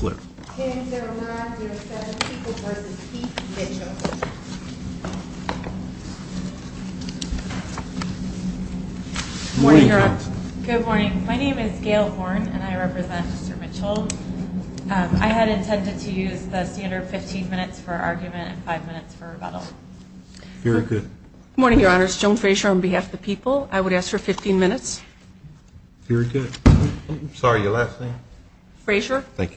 Good morning, my name is Gail Horne and I represent Mr. Mitchell. I had intended to use the standard 15 minutes for argument and five minutes for rebuttal. Very good. Good morning, your honors. Joan Frazier on behalf of the people. I would ask for 15 minutes. Very good. Sorry, your last name? Frazier. Thank you.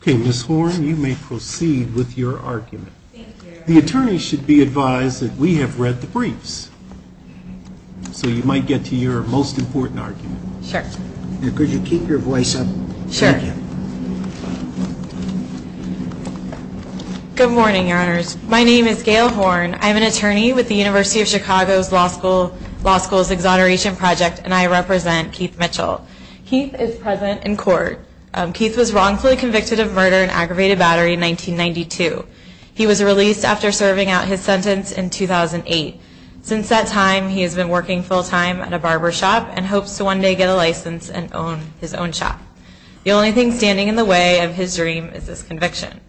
Okay, Ms. Horne, you may proceed with your argument. Thank you. The attorney should be advised that we have read the briefs, so you might get to your most important argument. Sure. Could you keep your voice up? Sure. Thank you. Good morning, your honors. My name is Gail Horne. I'm an attorney with the University of Chicago's Law School's Exoneration Project and I represent Keith Mitchell. Keith is present in court. Keith was wrongfully convicted of murder and aggravated battery in 1992. He was released after serving out his sentence in 2008. Since that time, he has been working full time at a barber shop and hopes to one day get a license and own his own shop. The only thing standing in the way of his dream is this conviction.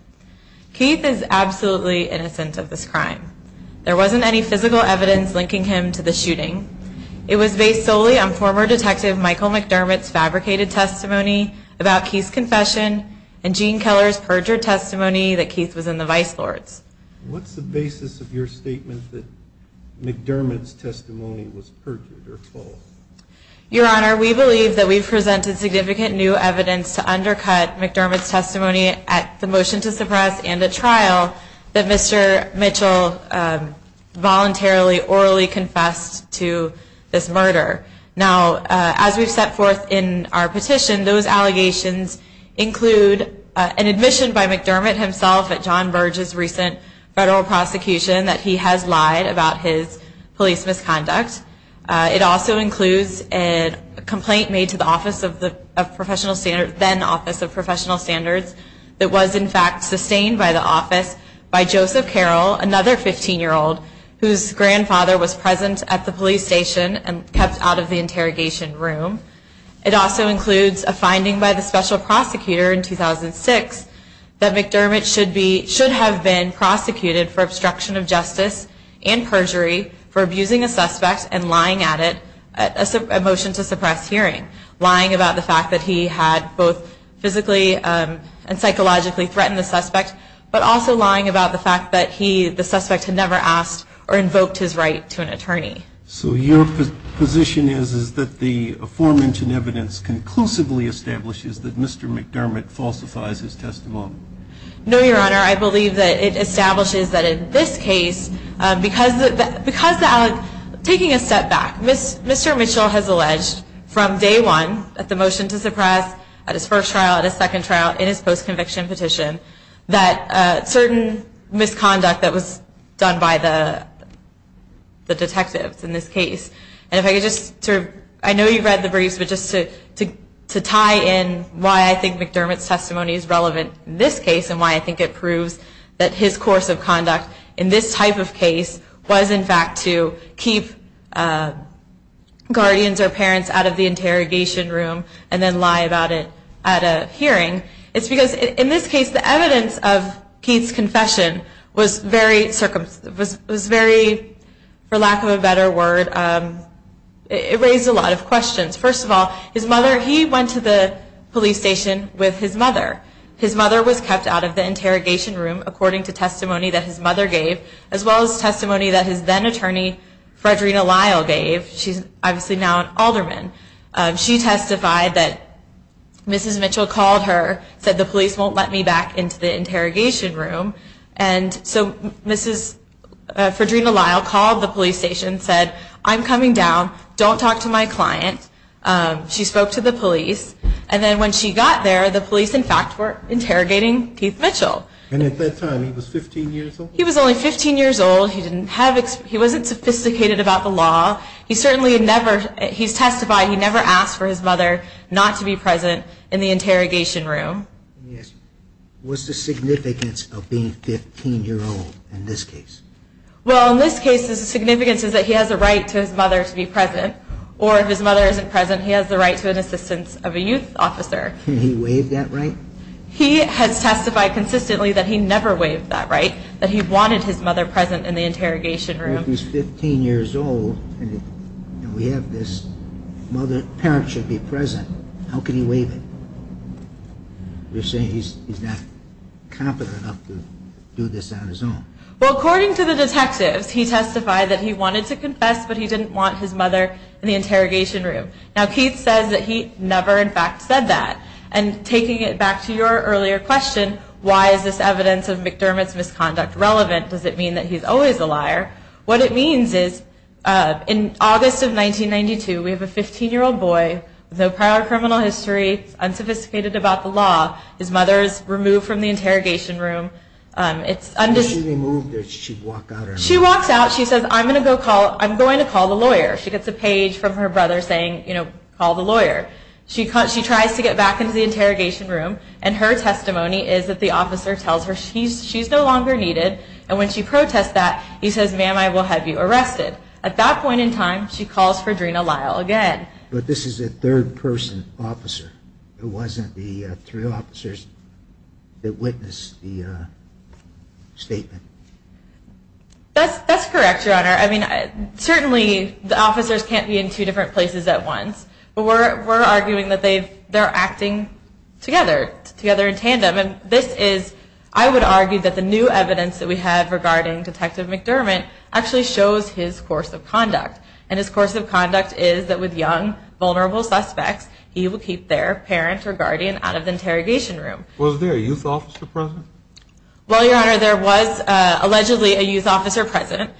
Keith is absolutely innocent of this crime. There wasn't any physical evidence linking him to the shooting. It was based solely on former detective Michael McDermott's fabricated testimony about Keith's confession and Gene Keller's perjured testimony that Keith was in the vice lords. What's the basis of your statement that McDermott's testimony was perjured or false? Your honor, we believe that we've presented significant new evidence to undercut McDermott's testimony at the motion to suppress and a trial that Mr. Mitchell voluntarily orally confessed to this murder. Now, as we've set forth in our petition, those allegations include an admission by McDermott himself at John Burge's recent federal prosecution that he has lied about his police misconduct. It also includes a complaint made to the then Office of Professional Standards that was in fact sustained by the office by Joseph Carroll, another 15-year-old, whose grandfather was present at the police station and kept out of the interrogation room. It also includes a finding by the special prosecutor in 2006 that McDermott should have been prosecuted for obstruction of justice and perjury for abusing a suspect and lying at it at a motion to suppress hearing. Lying about the fact that he had both physically and psychologically threatened the suspect, but also lying about the fact that the suspect had never asked or invoked his right to an attorney. So your position is that the aforementioned evidence conclusively establishes that Mr. McDermott falsifies his testimony? No, Your Honor. I believe that it establishes that in this case, because of taking a step back, Mr. Mitchell has alleged from day one at the motion to suppress, at his first trial, at his second trial, in his post-conviction petition, that certain misconduct that was done by the detectives in this case. And if I could just sort of, I know you've read the briefs, but just to tie in why I think McDermott's testimony is relevant in this case and why I think it proves that his course of conduct in this type of case was in fact to keep guardians or parents out of the interrogation room and then lie about it at a hearing. It's because in this case, the evidence of Keith's confession was very, for lack of a better word, it raised a lot of questions. First of all, his mother, he went to the police station with his mother. His mother was kept out of the interrogation room according to testimony that his mother gave, as well as testimony that his then-attorney, Frederina Lyle, gave. She's obviously now an alderman. She testified that Mrs. Mitchell called her, said the police won't let me back into the interrogation room. And so Mrs. Frederina Lyle called the police station and said, I'm coming down. Don't talk to my client. She spoke to the police. And then when she got there, the police, in fact, were interrogating Keith Mitchell. And at that time, he was 15 years old? He was only 15 years old. He didn't have, he wasn't sophisticated about the law. He certainly never, he's testified he never asked for his mother not to be present in the interrogation room. Let me ask you, what's the significance of being 15 years old in this case? Well, in this case, the significance is that he has a right to his mother to be present. Or if his mother isn't present, he has the right to an assistance of a youth officer. And he waived that right? He has testified consistently that he never waived that right, that he wanted his mother present in the interrogation room. If he's 15 years old, and we have this, parents should be present. How could he waive it? You're saying he's not competent enough to do this on his own. Well, according to the detectives, he testified that he wanted to confess, but he didn't want his mother in the interrogation room. Now, Keith says that he never, in fact, said that. And taking it back to your earlier question, why is this evidence of McDermott's misconduct relevant? Does it mean that he's always a liar? What it means is, in August of 1992, we have a 15-year-old boy with no prior criminal history, unsophisticated about the law. His mother is removed from the interrogation room. How is she removed? Does she walk out? She walks out. She says, I'm going to call the lawyer. She gets a page from her brother saying, you know, call the lawyer. She tries to get back into the interrogation room. And her testimony is that the officer tells her she's no longer needed. And when she protests that, he says, ma'am, I will have you arrested. At that point in time, she calls for Drina Lyle again. But this is a third-person officer. It wasn't the three officers that witnessed the statement. That's correct, Your Honor. I mean, certainly the officers can't be in two different places at once. But we're arguing that they're acting together, together in tandem. And this is, I would argue, that the new evidence that we have regarding Detective McDermott actually shows his course of conduct. And his course of conduct is that with young, vulnerable suspects, he will keep their parent or guardian out of the interrogation room. Was there a youth officer present? Well, Your Honor, there was allegedly a youth officer present.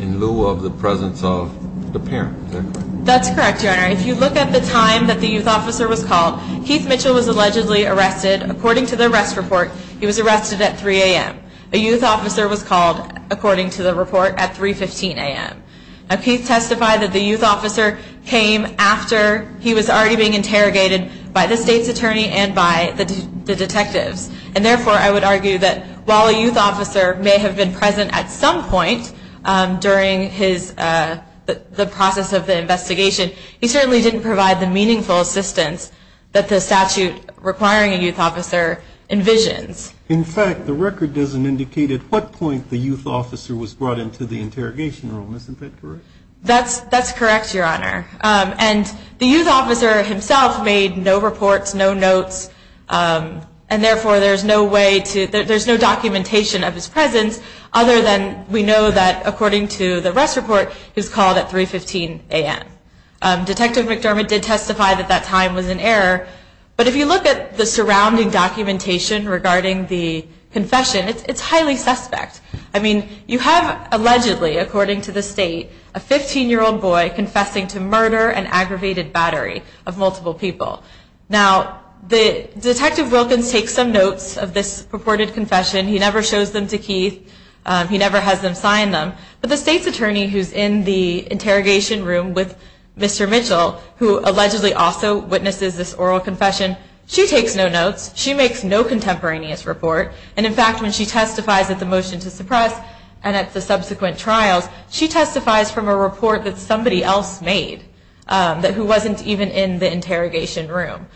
In lieu of the presence of the parent, is that correct? That's correct, Your Honor. If you look at the time that the youth officer was called, Keith Mitchell was allegedly arrested. According to the arrest report, he was arrested at 3 a.m. A youth officer was called, according to the report, at 3.15 a.m. Now, Keith testified that the youth officer came after he was already being interrogated by the state's attorney and by the detectives. And therefore, I would argue that while a youth officer may have been present at some point during the process of the investigation, he certainly didn't provide the meaningful assistance that the statute requiring a youth officer envisions. In fact, the record doesn't indicate at what point the youth officer was brought into the interrogation room. Isn't that correct? That's correct, Your Honor. And the youth officer himself made no reports, no notes. And therefore, there's no documentation of his presence other than we know that, according to the arrest report, he was called at 3.15 a.m. Detective McDermott did testify that that time was in error. But if you look at the surrounding documentation regarding the confession, it's highly suspect. I mean, you have allegedly, according to the state, a 15-year-old boy confessing to murder and aggravated battery of multiple people. Now, Detective Wilkins takes some notes of this purported confession. He never shows them to Keith. He never has them sign them. But the state's attorney who's in the interrogation room with Mr. Mitchell, who allegedly also witnesses this oral confession, she takes no notes. She makes no contemporaneous report. And, in fact, when she testifies at the motion to suppress and at the subsequent trials, she testifies from a report that somebody else made, who wasn't even in the interrogation room.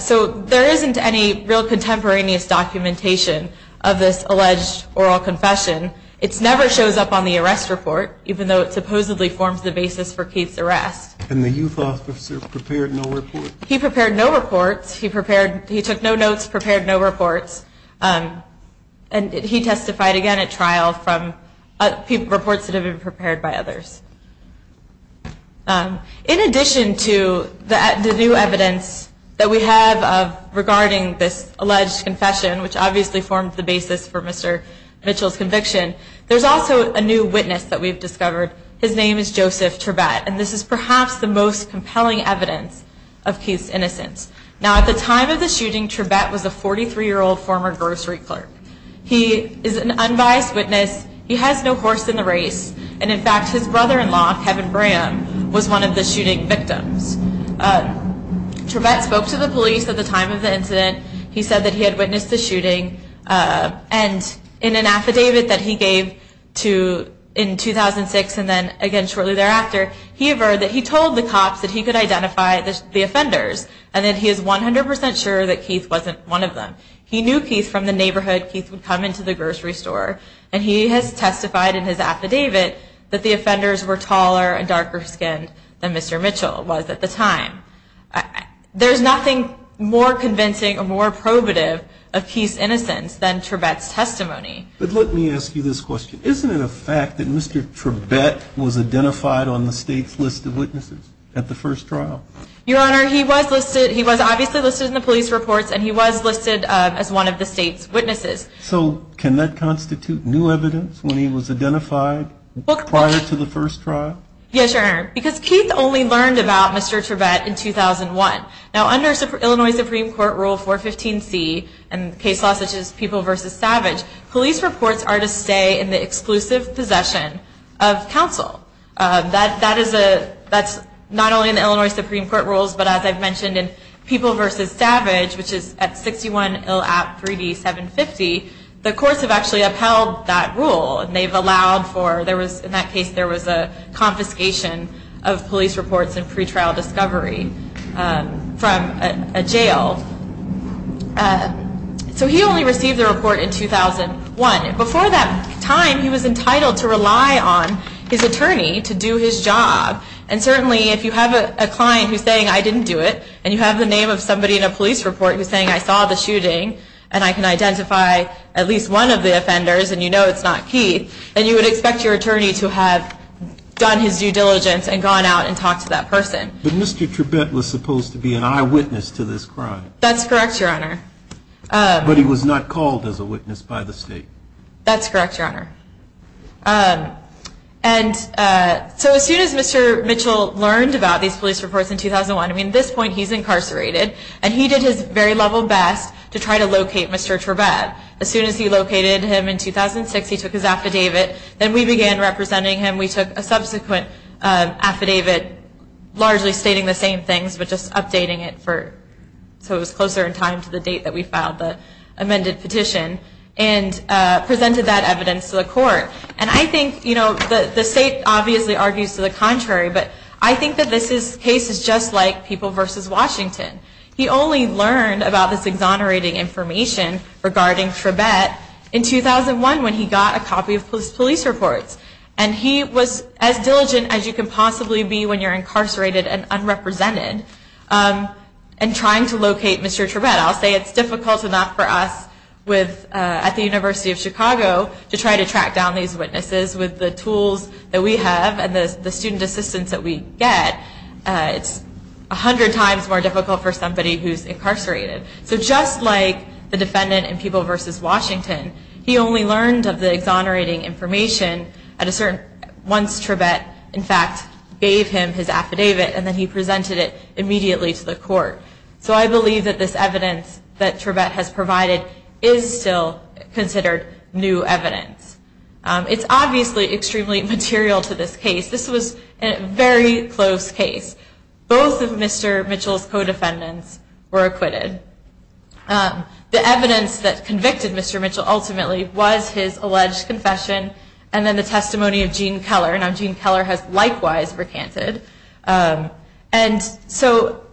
So there isn't any real contemporaneous documentation of this alleged oral confession. It never shows up on the arrest report, even though it supposedly forms the basis for Keith's arrest. And the youth officer prepared no reports? He prepared no reports. He took no notes, prepared no reports. And he testified again at trial from reports that had been prepared by others. In addition to the new evidence that we have regarding this alleged confession, which obviously formed the basis for Mr. Mitchell's conviction, there's also a new witness that we've discovered. His name is Joseph Turbat. And this is perhaps the most compelling evidence of Keith's innocence. Now, at the time of the shooting, Turbat was a 43-year-old former grocery clerk. He is an unbiased witness. He has no horse in the race. And, in fact, his brother-in-law, Kevin Braham, was one of the shooting victims. Turbat spoke to the police at the time of the incident. He said that he had witnessed the shooting. And in an affidavit that he gave in 2006 and then again shortly thereafter, he told the cops that he could identify the offenders and that he is 100% sure that Keith wasn't one of them. He knew Keith from the neighborhood. Keith would come into the grocery store. And he has testified in his affidavit that the offenders were taller and darker-skinned than Mr. Mitchell was at the time. There's nothing more convincing or more probative of Keith's innocence than Turbat's testimony. But let me ask you this question. Isn't it a fact that Mr. Turbat was identified on the state's list of witnesses at the first trial? Your Honor, he was listed. He was obviously listed in the police reports, and he was listed as one of the state's witnesses. So can that constitute new evidence when he was identified prior to the first trial? Yes, Your Honor, because Keith only learned about Mr. Turbat in 2001. Now, under Illinois Supreme Court Rule 415C and case laws such as People v. Savage, police reports are to stay in the exclusive possession of counsel. That's not only in Illinois Supreme Court rules, but as I've mentioned in People v. Savage, which is at 61 Ill App 3D 750, the courts have actually upheld that rule. In that case, there was a confiscation of police reports in pretrial discovery from a jail. So he only received the report in 2001. Before that time, he was entitled to rely on his attorney to do his job. And certainly, if you have a client who's saying, I didn't do it, and you have the name of somebody in a police report who's saying, I saw the shooting, and I can identify at least one of the offenders, and you know it's not Keith, then you would expect your attorney to have done his due diligence and gone out and talked to that person. But Mr. Turbat was supposed to be an eyewitness to this crime. That's correct, Your Honor. But he was not called as a witness by the state. That's correct, Your Honor. And so as soon as Mr. Mitchell learned about these police reports in 2001, I mean, at this point, he's incarcerated. And he did his very level best to try to locate Mr. Turbat. As soon as he located him in 2006, he took his affidavit. Then we began representing him. We took a subsequent affidavit, largely stating the same things, but just updating it so it was closer in time to the date that we filed the amended petition, and presented that evidence to the court. And I think, you know, the state obviously argues to the contrary, but I think that this case is just like People v. Washington. He only learned about this exonerating information regarding Turbat in 2001 when he got a copy of his police reports. And he was as diligent as you can possibly be when you're incarcerated and unrepresented in trying to locate Mr. Turbat. I'll say it's difficult enough for us at the University of Chicago to try to track down these witnesses with the tools that we have and the student assistance that we get. It's 100 times more difficult for somebody who's incarcerated. So just like the defendant in People v. Washington, he only learned of the exonerating information once Turbat, in fact, gave him his affidavit, and then he presented it immediately to the court. So I believe that this evidence that Turbat has provided is still considered new evidence. It's obviously extremely material to this case. This was a very close case. Both of Mr. Mitchell's co-defendants were acquitted. The evidence that convicted Mr. Mitchell ultimately was his alleged confession and then the testimony of Gene Keller. Now Gene Keller has likewise recanted. And so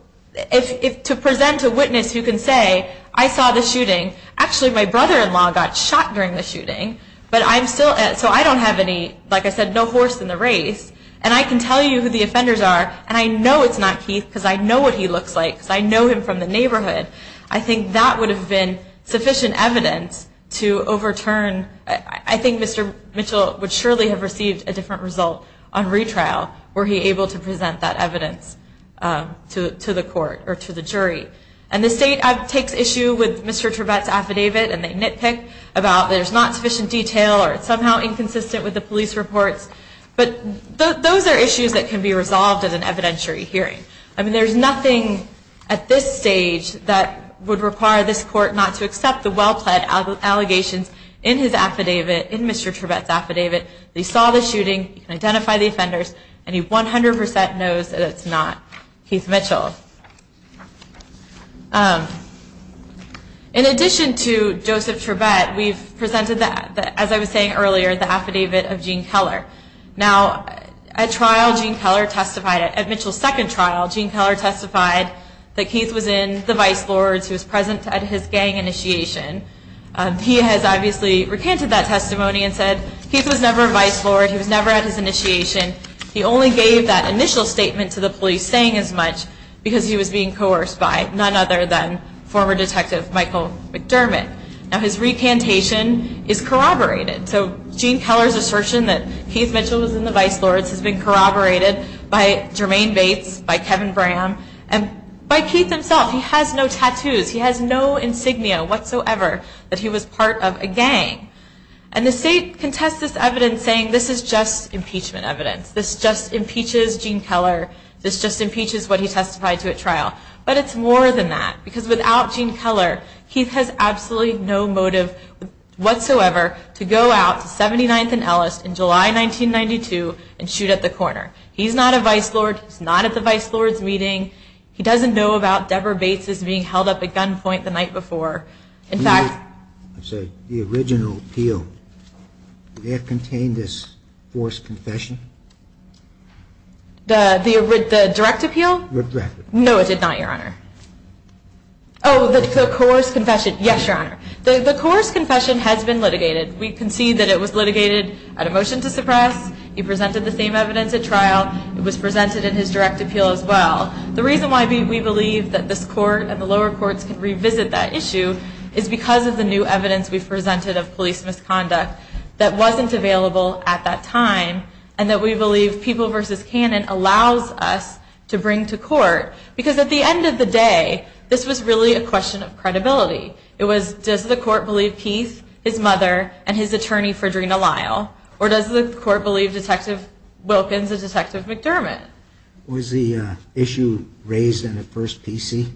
to present a witness who can say, I saw the shooting. Actually, my brother-in-law got shot during the shooting, so I don't have any, like I said, no horse in the race. And I can tell you who the offenders are, and I know it's not Keith because I know what he looks like because I know him from the neighborhood. I think that would have been sufficient evidence to overturn. I think Mr. Mitchell would surely have received a different result on retrial were he able to present that evidence to the court or to the jury. And the state takes issue with Mr. Turbat's affidavit, and they nitpick about there's not sufficient detail or it's somehow inconsistent with the police reports. But those are issues that can be resolved at an evidentiary hearing. I mean, there's nothing at this stage that would require this court not to accept the well-plaid allegations in his affidavit, in Mr. Turbat's affidavit. He saw the shooting, he can identify the offenders, and he 100% knows that it's not Keith Mitchell. In addition to Joseph Turbat, we've presented, as I was saying earlier, the affidavit of Gene Keller. Now, at trial, Gene Keller testified. At Mitchell's second trial, Gene Keller testified that Keith was in the Vice Lords. He was present at his gang initiation. He has obviously recanted that testimony and said Keith was never a Vice Lord, he was never at his initiation. He only gave that initial statement to the police, saying as much, because he was being coerced by none other than former Detective Michael McDermott. Now, his recantation is corroborated. So Gene Keller's assertion that Keith Mitchell was in the Vice Lords has been corroborated by Jermaine Bates, by Kevin Bram, and by Keith himself. He has no tattoos. He has no insignia whatsoever that he was part of a gang. And the state contests this evidence, saying this is just impeachment evidence. This just impeaches Gene Keller. This just impeaches what he testified to at trial. But it's more than that, because without Gene Keller, Keith has absolutely no motive whatsoever to go out to 79th and Ellis in July 1992 and shoot at the corner. He's not a Vice Lord. He's not at the Vice Lords meeting. He doesn't know about Deborah Bates' being held up at gunpoint the night before. In fact- I'm sorry. The original appeal, did that contain this forced confession? The direct appeal? No, it did not, Your Honor. Oh, the coerced confession. Yes, Your Honor. The coerced confession has been litigated. We concede that it was litigated at a motion to suppress. He presented the same evidence at trial. It was presented in his direct appeal as well. The reason why we believe that this court and the lower courts can revisit that issue is because of the new evidence we've presented of police misconduct that wasn't available at that time, and that we believe People v. Cannon allows us to bring to court. Because at the end of the day, this was really a question of credibility. It was, does the court believe Keith, his mother, and his attorney, Fredrina Lyle, or does the court believe Detective Wilkins and Detective McDermott? Was the issue raised in the first PC?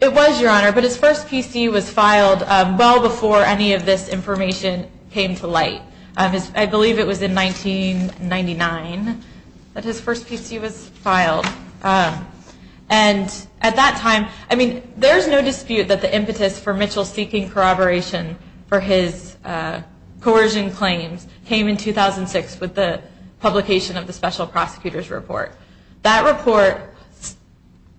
It was, Your Honor, but his first PC was filed well before any of this information came to light. I believe it was in 1999 that his first PC was filed. And at that time, I mean, there's no dispute that the impetus for Mitchell seeking corroboration for his coercion claims came in 2006 with the publication of the Special Prosecutor's Report. That report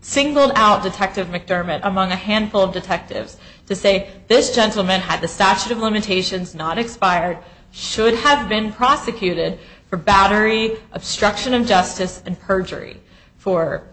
singled out Detective McDermott among a handful of detectives to say this gentleman had the statute of limitations not expired, should have been prosecuted for battery, obstruction of justice, and perjury for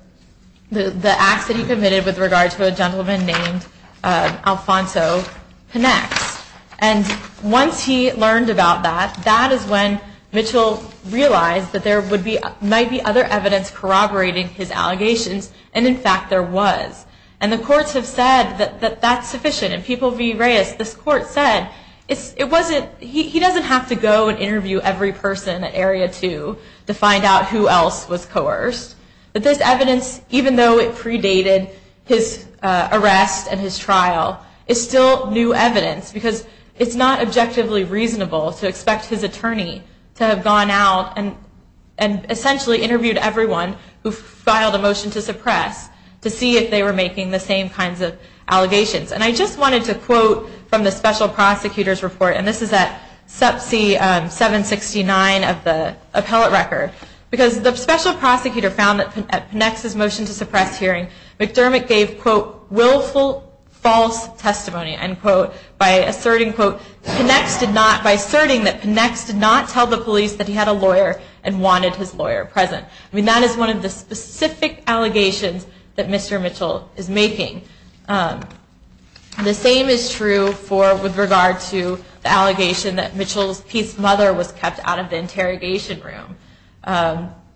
the acts that he committed with regard to a gentleman named Alfonso Penex. And once he learned about that, that is when Mitchell realized that there would be, might be other evidence corroborating his allegations, and in fact there was. And the courts have said that that's sufficient, and People v. Reyes, this court said, he doesn't have to go and interview every person at Area 2 to find out who else was coerced. But this evidence, even though it predated his arrest and his trial, is still new evidence because it's not objectively reasonable to expect his attorney to have gone out and essentially interviewed everyone who filed a motion to suppress to see if they were making the same kinds of allegations. And I just wanted to quote from the Special Prosecutor's Report, and this is at sub C769 of the appellate record, because the Special Prosecutor found that at Penex's motion to suppress hearing, McDermott gave, quote, willful false testimony, end quote, by asserting, quote, Penex did not, by asserting that Penex did not tell the police that he had a lawyer and wanted his lawyer present. I mean, that is one of the specific allegations that Mr. Mitchell is making. The same is true with regard to the allegation that Mitchell's, Keith's mother was kept out of the interrogation room.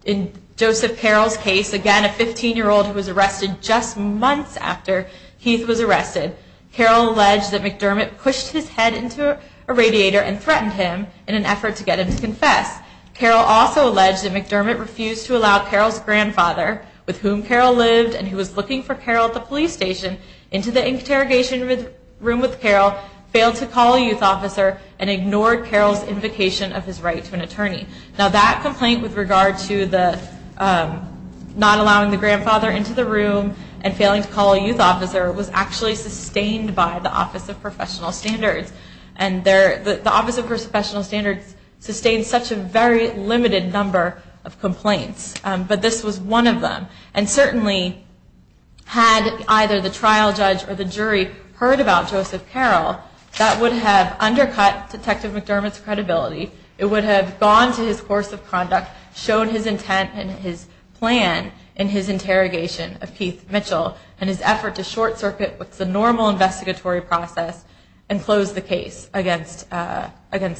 In Joseph Carroll's case, again, a 15-year-old who was arrested just months after Keith was arrested, Carroll alleged that McDermott pushed his head into a radiator and threatened him in an effort to get him to confess. Carroll also alleged that McDermott refused to allow Carroll's grandfather, with whom Carroll lived and who was looking for Carroll at the police station, into the interrogation room with Carroll, failed to call a youth officer, and ignored Carroll's invocation of his right to an attorney. Now, that complaint with regard to the not allowing the grandfather into the room and failing to call a youth officer was actually sustained by the Office of Professional Standards, and the Office of Professional Standards sustains such a very limited number of complaints, but this was one of them. And certainly, had either the trial judge or the jury heard about Joseph Carroll, that would have undercut Detective McDermott's credibility. It would have gone to his course of conduct, shown his intent and his plan in his interrogation of Keith Mitchell, and his effort to short-circuit what's a normal investigatory process and close the case against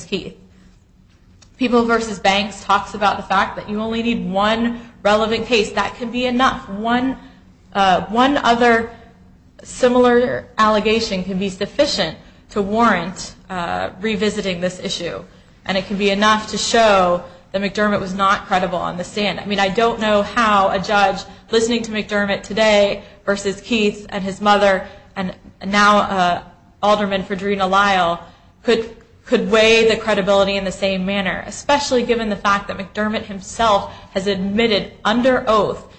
Keith. People v. Banks talks about the fact that you only need one relevant case. That can be enough. One other similar allegation can be sufficient to warrant revisiting this issue, and it can be enough to show that McDermott was not credible on the stand. I mean, I don't know how a judge listening to McDermott today versus Keith and his mother, and now Alderman Fredrina Lyle, could weigh the credibility in the same manner, especially given the fact that McDermott himself has admitted under oath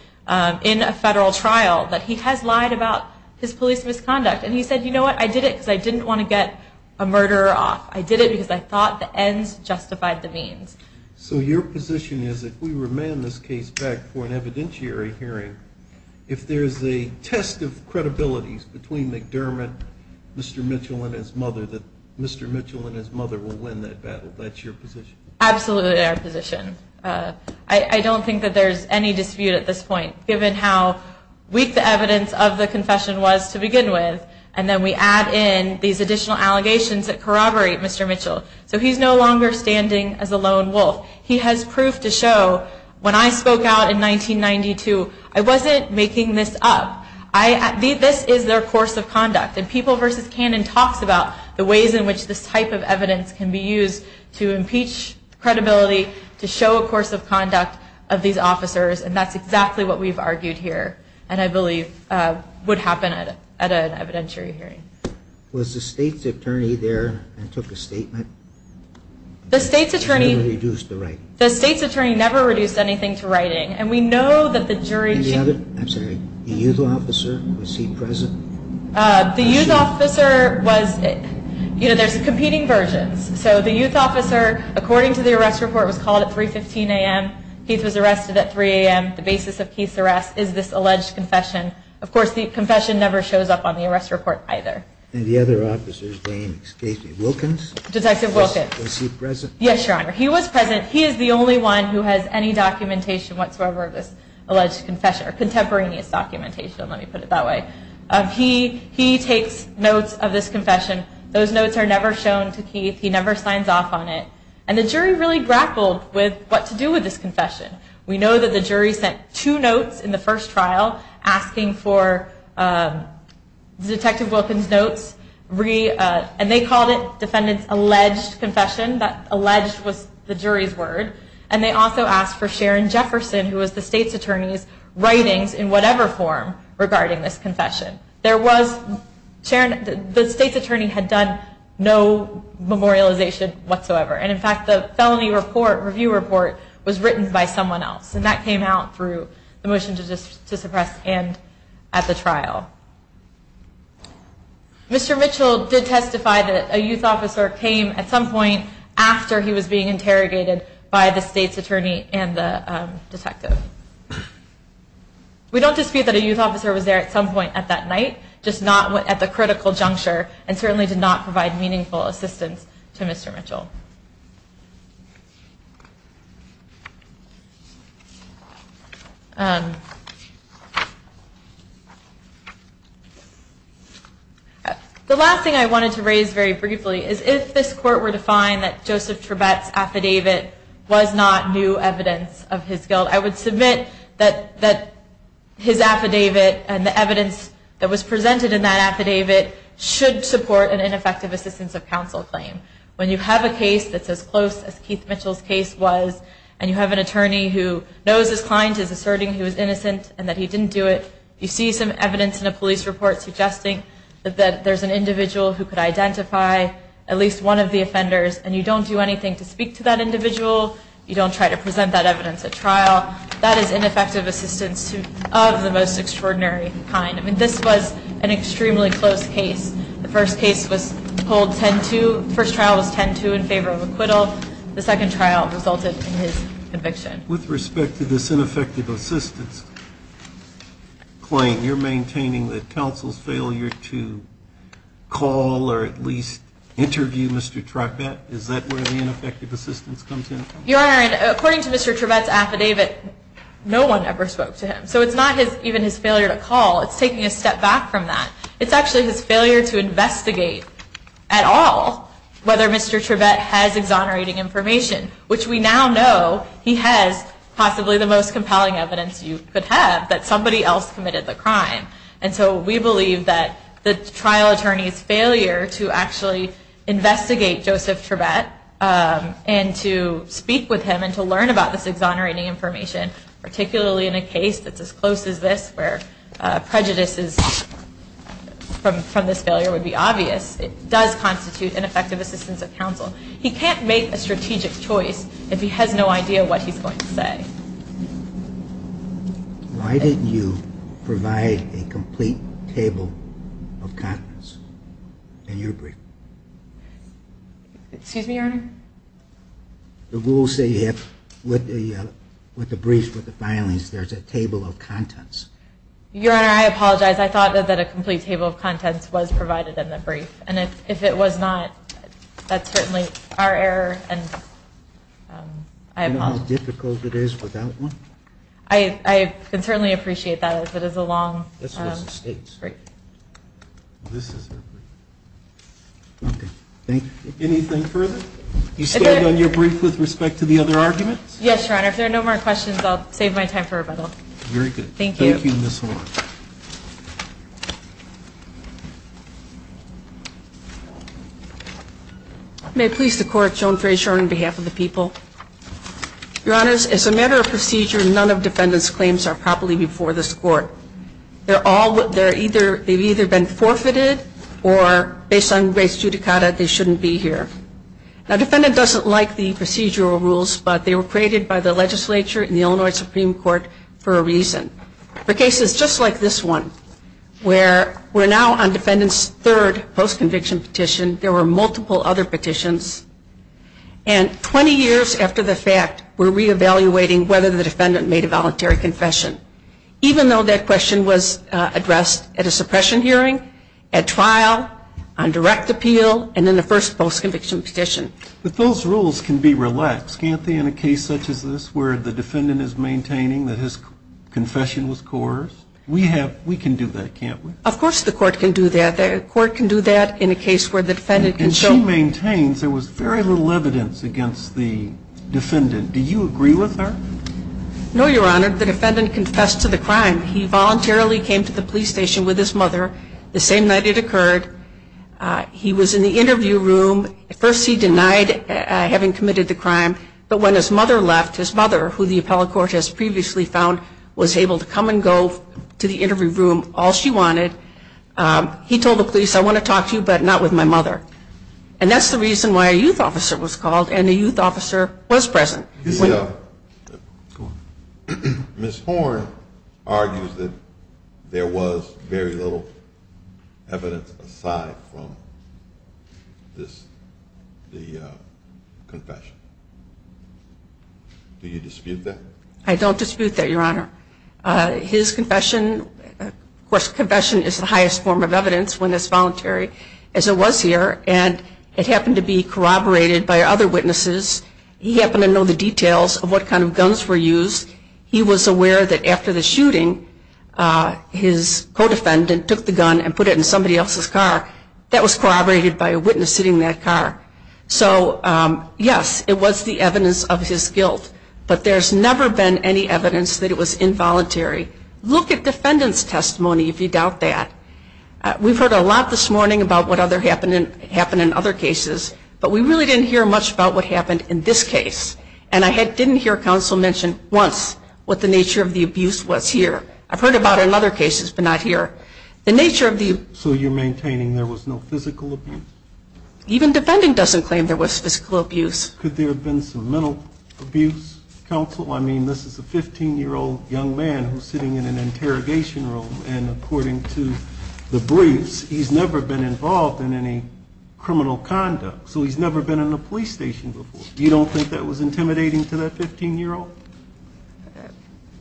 in a federal trial that he has lied about his police misconduct. And he said, you know what, I did it because I didn't want to get a murderer off. I did it because I thought the ends justified the means. So your position is if we remand this case back for an evidentiary hearing, if there's a test of credibility between McDermott, Mr. Mitchell, and his mother, that Mr. Mitchell and his mother will win that battle. That's your position? Absolutely our position. I don't think that there's any dispute at this point, given how weak the evidence of the confession was to begin with, and then we add in these additional allegations that corroborate Mr. Mitchell. So he's no longer standing as a lone wolf. He has proof to show, when I spoke out in 1992, I wasn't making this up. This is their course of conduct. And People v. Cannon talks about the ways in which this type of evidence can be used to impeach credibility, to show a course of conduct of these officers, and that's exactly what we've argued here, and I believe would happen at an evidentiary hearing. Was the state's attorney there and took a statement? The state's attorney never reduced anything to writing, and we know that the jury... And the other, I'm sorry, the youth officer, was he present? The youth officer was, you know, there's competing versions. So the youth officer, according to the arrest report, was called at 3.15 a.m. Keith was arrested at 3 a.m. The basis of Keith's arrest is this alleged confession. Of course, the confession never shows up on the arrest report either. And the other officer's name, excuse me, Wilkins? Detective Wilkins. Was he present? Yes, Your Honor, he was present. He is the only one who has any documentation whatsoever of this alleged confession, or contemporaneous documentation, let me put it that way. He takes notes of this confession. Those notes are never shown to Keith. He never signs off on it. And the jury really grappled with what to do with this confession. We know that the jury sent two notes in the first trial asking for Detective Wilkins' notes, and they called it defendant's alleged confession. Alleged was the jury's word. And they also asked for Sharon Jefferson, who was the state's attorney's writings in whatever form regarding this confession. The state's attorney had done no memorialization whatsoever. And, in fact, the felony review report was written by someone else, Mr. Mitchell did testify that a youth officer came at some point after he was being interrogated by the state's attorney and the detective. We don't dispute that a youth officer was there at some point at that night, just not at the critical juncture, and certainly did not provide meaningful assistance to Mr. Mitchell. The last thing I wanted to raise very briefly is if this court were to find that Joseph Trebet's affidavit was not new evidence of his guilt, I would submit that his affidavit and the evidence that was presented in that affidavit should support an ineffective assistance of counsel claim. When you have a case that's as close as Keith Mitchell's case was, and you have an attorney who knows his client is asserting he was innocent and that he didn't do it, you see some evidence in a police report suggesting that there's an individual who could identify at least one of the offenders, and you don't do anything to speak to that individual, you don't try to present that evidence at trial, that is ineffective assistance of the most extraordinary kind. This was an extremely close case. The first trial was 10-2 in favor of acquittal. The second trial resulted in his conviction. With respect to this ineffective assistance claim, you're maintaining that counsel's failure to call or at least interview Mr. Trebet? Is that where the ineffective assistance comes in? Your Honor, according to Mr. Trebet's affidavit, no one ever spoke to him. So it's not even his failure to call, it's taking a step back from that. It's actually his failure to investigate at all whether Mr. Trebet has exonerating information, which we now know he has possibly the most compelling evidence you could have that somebody else committed the crime. And so we believe that the trial attorney's failure to actually investigate Joseph Trebet and to speak with him and to learn about this exonerating information, particularly in a case that's as close as this, where prejudices from this failure would be obvious, does constitute ineffective assistance of counsel. He can't make a strategic choice if he has no idea what he's going to say. Why didn't you provide a complete table of contents in your brief? Excuse me, Your Honor? The rules say with the briefs, with the filings, there's a table of contents. Your Honor, I apologize. I thought that a complete table of contents was provided in the brief, and if it was not, that's certainly our error. Do you know how difficult it is without one? I can certainly appreciate that if it is a long brief. Anything further? You stand on your brief with respect to the other arguments? Yes, Your Honor. If there are no more questions, I'll save my time for rebuttal. Thank you. Thank you, Ms. Horne. May it please the Court, Joan Frazier on behalf of the people. Your Honors, as a matter of procedure, none of defendant's claims are properly before this Court. They've either been forfeited, or based on race judicata, they shouldn't be here. Now, defendant doesn't like the procedural rules, but they were created by the legislature and the Illinois Supreme Court for a reason. For cases just like this one, where we're now on defendant's third post-conviction petition, there were multiple other petitions, and 20 years after the fact, we're reevaluating whether the defendant made a voluntary confession. Even though that question was addressed at a suppression hearing, at trial, on direct appeal, and in the first post-conviction petition. But those rules can be relaxed, can't they, in a case such as this, where the defendant is maintaining that his confession was coerced? We can do that, can't we? Of course the Court can do that. The Court can do that in a case where the defendant can show. And she maintains there was very little evidence against the defendant. Do you agree with her? No, Your Honor. The defendant confessed to the crime. He voluntarily came to the police station with his mother the same night it occurred. He was in the interview room. At first he denied having committed the crime, but when his mother left, his mother, who the appellate court has previously found, was able to come and go to the interview room all she wanted. He told the police, I want to talk to you, but not with my mother. And that's the reason why a youth officer was called, and a youth officer was present. Ms. Horne argues that there was very little evidence aside from the confession. Do you dispute that? I don't dispute that, Your Honor. His confession, of course confession is the highest form of evidence when it's voluntary, as it was here, and it happened to be corroborated by other witnesses. He happened to know the details of what kind of guns were used. He was aware that after the shooting, his co-defendant took the gun and put it in somebody else's car. That was corroborated by a witness sitting in that car. So, yes, it was the evidence of his guilt, but there's never been any evidence that it was involuntary. Look at defendant's testimony if you doubt that. We've heard a lot this morning about what happened in other cases, but we really didn't hear much about what happened in this case, and I didn't hear counsel mention once what the nature of the abuse was here. I've heard about it in other cases, but not here. So you're maintaining there was no physical abuse? Even defending doesn't claim there was physical abuse. Could there have been some mental abuse, counsel? I mean, this is a 15-year-old young man who's sitting in an interrogation room, and according to the briefs, he's never been involved in any criminal conduct. So he's never been in a police station before. You don't think that was intimidating to that 15-year-old?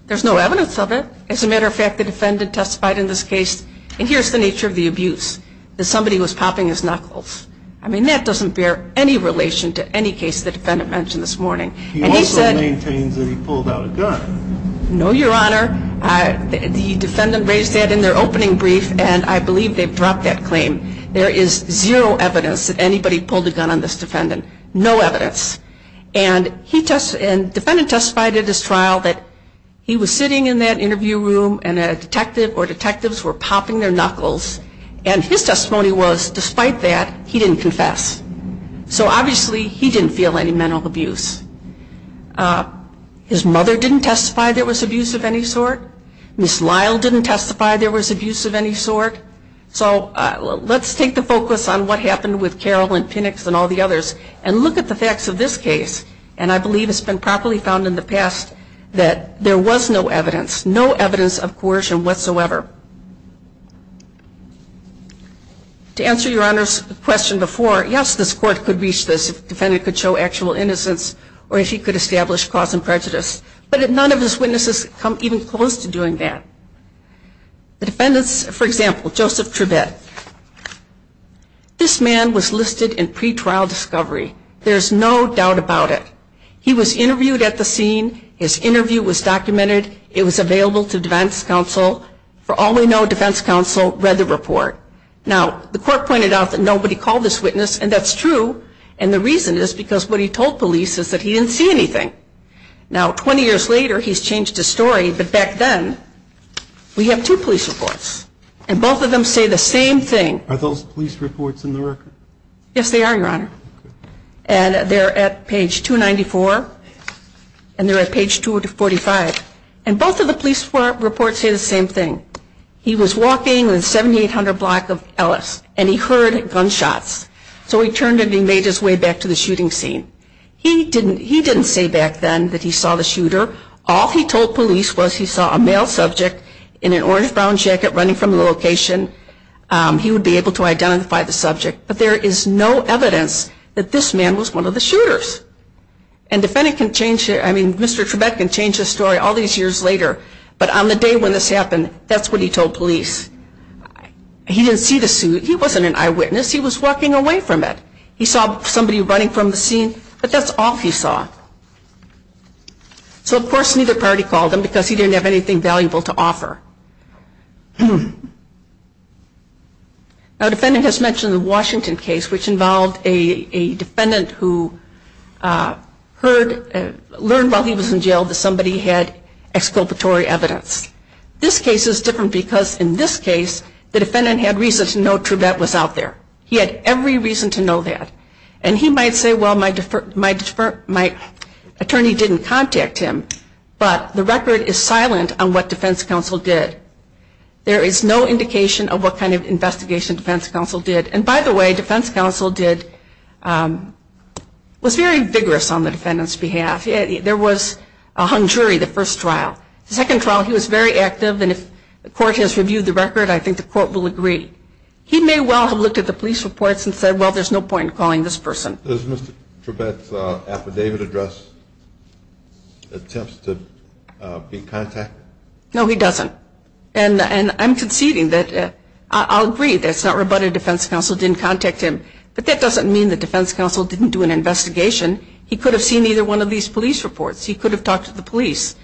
There's no evidence of it. As a matter of fact, the defendant testified in this case, and here's the nature of the abuse, that somebody was popping his knuckles. I mean, that doesn't bear any relation to any case the defendant mentioned this morning. He also maintains that he pulled out a gun. No, Your Honor. The defendant raised that in their opening brief, and I believe they've dropped that claim. There is zero evidence that anybody pulled a gun on this defendant. No evidence. And the defendant testified at his trial that he was sitting in that interview room and a detective or detectives were popping their knuckles, and his testimony was, despite that, he didn't confess. So obviously he didn't feel any mental abuse. His mother didn't testify there was abuse of any sort. Ms. Lyle didn't testify there was abuse of any sort. So let's take the focus on what happened with Carol and Phoenix and all the others and look at the facts of this case, and I believe it's been properly found in the past that there was no evidence, no evidence of coercion whatsoever. To answer Your Honor's question before, yes, this court could reach this if the defendant could show actual innocence or if he could establish cause and prejudice, but none of his witnesses come even close to doing that. The defendants, for example, Joseph Tribbett, this man was listed in pretrial discovery. There's no doubt about it. He was interviewed at the scene. His interview was documented. It was available to defense counsel. For all we know, defense counsel read the report. Now, the court pointed out that nobody called this witness, and that's true, and the reason is because what he told police is that he didn't see anything. Now, 20 years later, he's changed his story, but back then we have two police reports, and both of them say the same thing. Are those police reports in the record? Yes, they are, Your Honor, and they're at page 294, and they're at page 245, and both of the police reports say the same thing. He was walking the 7800 block of Ellis, and he heard gunshots. So he turned and he made his way back to the shooting scene. He didn't say back then that he saw the shooter. All he told police was he saw a male subject in an orange-brown jacket running from the location. He would be able to identify the subject, but there is no evidence that this man was one of the shooters, and Mr. Tribbett can change his story all these years later, but on the day when this happened, that's what he told police. He didn't see the suit. He wasn't an eyewitness. He was walking away from it. He saw somebody running from the scene, but that's all he saw. So, of course, neither party called him because he didn't have anything valuable to offer. Our defendant has mentioned the Washington case, which involved a defendant who learned while he was in jail that somebody had exculpatory evidence. This case is different because in this case the defendant had reason to know Tribbett was out there. He had every reason to know that. And he might say, well, my attorney didn't contact him, but the record is silent on what defense counsel did. There is no indication of what kind of investigation defense counsel did. And, by the way, defense counsel was very vigorous on the defendant's behalf. There was a hung jury the first trial. The second trial he was very active, and if the court has reviewed the record, I think the court will agree. He may well have looked at the police reports and said, well, there's no point in calling this person. Does Mr. Tribbett's affidavit address attempt to be contacted? No, he doesn't. And I'm conceding that I'll agree that it's not rebutted defense counsel didn't contact him, but that doesn't mean that defense counsel didn't do an investigation. He could have seen either one of these police reports. He could have talked to the police.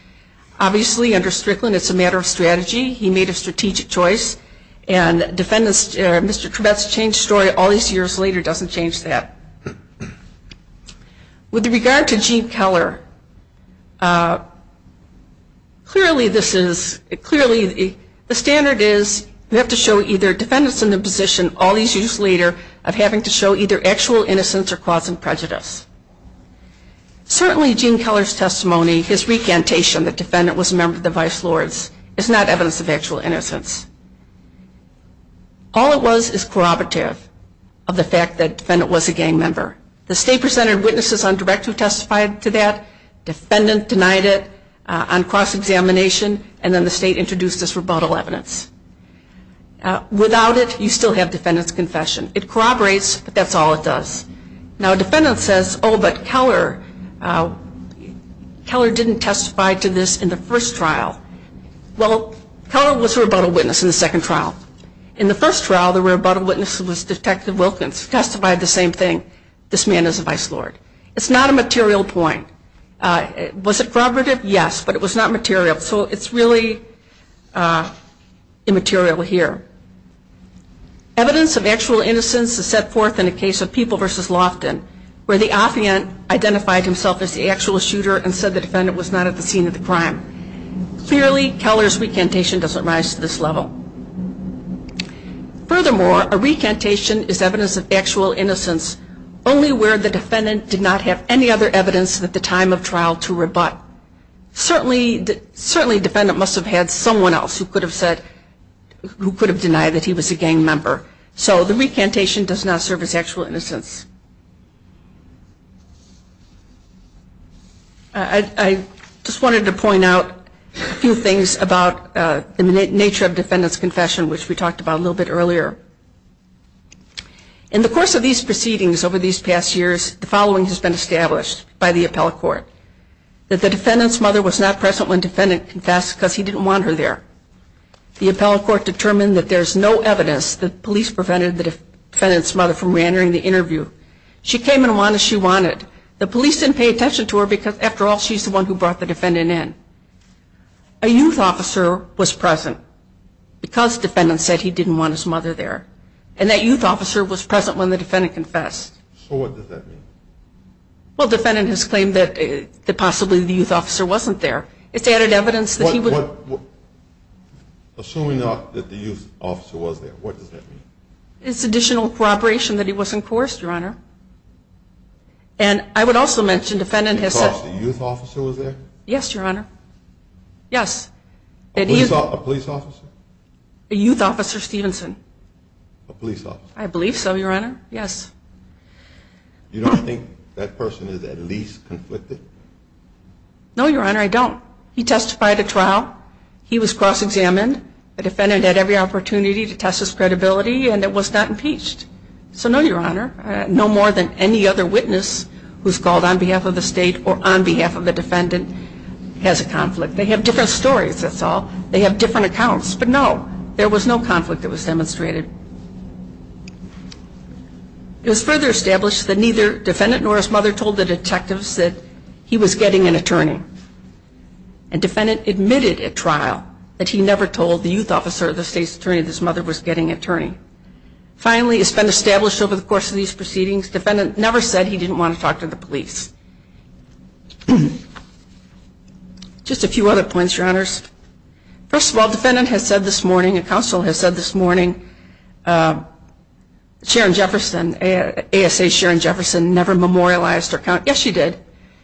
Obviously, under Strickland, it's a matter of strategy. He made a strategic choice, and Mr. Tribbett's changed story all these years later doesn't change that. With regard to Gene Keller, clearly the standard is you have to show either defendants in the position all these years later of having to show either actual innocence or cause some prejudice. Certainly, Gene Keller's testimony, his recantation that defendant was a member of the Vice Lords, is not evidence of actual innocence. All it was is corroborative of the fact that defendant was a gang member. The state presented witnesses on direct who testified to that. Defendant denied it on cross-examination, and then the state introduced this rebuttal evidence. Without it, you still have defendant's confession. It corroborates, but that's all it does. Now, a defendant says, oh, but Keller didn't testify to this in the first trial. Well, Keller was a rebuttal witness in the second trial. In the first trial, the rebuttal witness was Detective Wilkins, who testified the same thing, this man is a Vice Lord. It's not a material point. Was it corroborative? Yes, but it was not material, so it's really immaterial here. Evidence of actual innocence is set forth in the case of People v. Loftin, where the affiant identified himself as the actual shooter and said the defendant was not at the scene of the crime. Clearly, Keller's recantation doesn't rise to this level. Furthermore, a recantation is evidence of actual innocence, only where the defendant did not have any other evidence at the time of trial to rebut. Certainly, a defendant must have had someone else who could have said, who could have denied that he was a gang member. So the recantation does not serve as actual innocence. I just wanted to point out a few things about the nature of defendant's confession, which we talked about a little bit earlier. In the course of these proceedings over these past years, the following has been established by the appellate court, that the defendant's mother was not present when defendant confessed because he didn't want her there. The appellate court determined that there's no evidence that police prevented the defendant's mother from reentering the interview. She came and went as she wanted. The police didn't pay attention to her because, after all, she's the one who brought the defendant in. A youth officer was present because defendant said he didn't want his mother there, and that youth officer was present when the defendant confessed. So what does that mean? Well, defendant has claimed that possibly the youth officer wasn't there. It's added evidence that he was. Assuming that the youth officer was there, what does that mean? It's additional corroboration that he was in course, Your Honor. And I would also mention defendant has said. Because the youth officer was there? Yes, Your Honor. Yes. A police officer? A youth officer, Stevenson. A police officer. I believe so, Your Honor. Yes. You don't think that person is at least conflicted? No, Your Honor, I don't. He testified at trial. He was cross-examined. The defendant had every opportunity to test his credibility, and it was not impeached. So no, Your Honor, no more than any other witness who's called on behalf of the state or on behalf of the defendant has a conflict. They have different stories, that's all. They have different accounts. But no, there was no conflict that was demonstrated. It was further established that neither defendant nor his mother told the detectives that he was getting an attorney. And defendant admitted at trial that he never told the youth officer or the state's attorney that his mother was getting an attorney. Finally, it's been established over the course of these proceedings, defendant never said he didn't want to talk to the police. Just a few other points, Your Honors. First of all, defendant has said this morning, a counsel has said this morning Sharon Jefferson, ASA Sharon Jefferson, never memorialized her account. Yes, she did.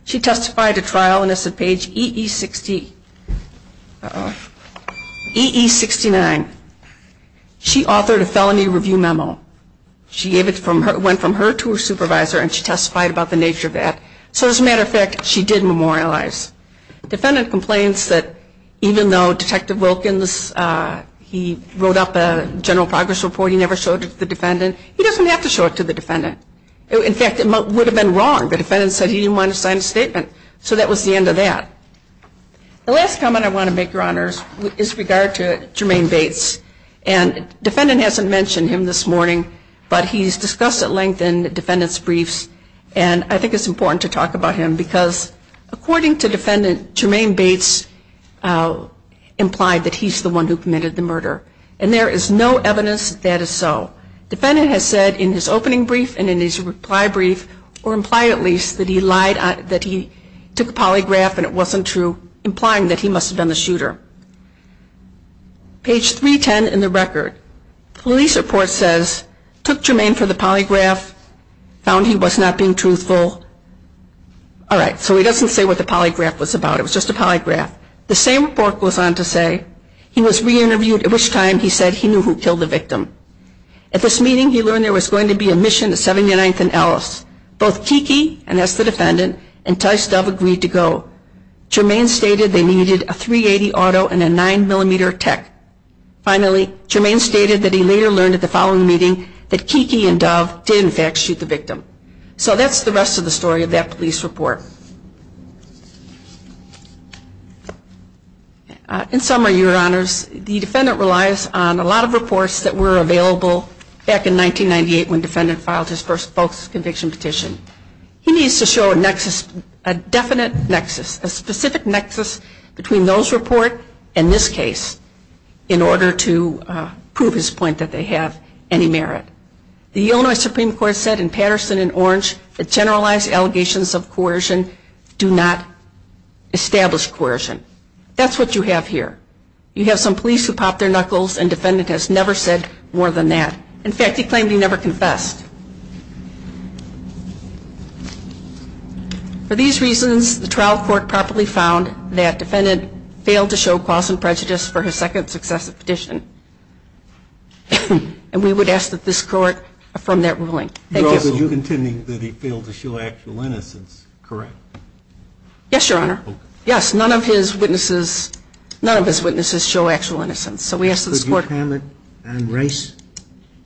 She testified at trial, and it's at page EE69. She authored a felony review memo. It went from her to her supervisor, and she testified about the nature of that. So as a matter of fact, she did memorialize. Defendant complains that even though Detective Wilkins, he wrote up a general progress report, he never showed it to the defendant. He doesn't have to show it to the defendant. In fact, it would have been wrong. The defendant said he didn't want to sign a statement. So that was the end of that. The last comment I want to make, Your Honors, is with regard to Jermaine Bates. And defendant hasn't mentioned him this morning, but he's discussed at length in defendant's briefs, and I think it's important to talk about him because, according to defendant, Jermaine Bates implied that he's the one who committed the murder. And there is no evidence that is so. Defendant has said in his opening brief and in his reply brief, or implied at least, that he lied, that he took a polygraph and it wasn't true, implying that he must have been the shooter. Page 310 in the record, police report says, took Jermaine for the polygraph, found he was not being truthful. All right. So he doesn't say what the polygraph was about. It was just a polygraph. The same report goes on to say he was re-interviewed, at which time he said he knew who killed the victim. At this meeting, he learned there was going to be a mission at 79th and Ellis. Both Kiki, and that's the defendant, and Tice Dove agreed to go. Jermaine stated they needed a .380 auto and a 9mm tech. Finally, Jermaine stated that he later learned at the following meeting that Kiki and Dove did, in fact, shoot the victim. So that's the rest of the story of that police report. In summary, Your Honors, the defendant relies on a lot of reports that were available back in 1998 when defendant filed his first false conviction petition. He needs to show a nexus, a definite nexus, a specific nexus between those reports and this case in order to prove his point that they have any merit. The Illinois Supreme Court said in Patterson and Orange that generalized allegations of coercion do not establish coercion. That's what you have here. You have some police who pop their knuckles, and defendant has never said more than that. In fact, he claimed he never confessed. For these reasons, the trial court properly found that defendant failed to show cause and prejudice for his second successive petition, and we would ask that this court affirm that ruling. Thank you. You're contending that he failed to show actual innocence, correct? Yes, Your Honor. Okay. Yes, none of his witnesses show actual innocence, so we ask that this court Could you comment on Rice?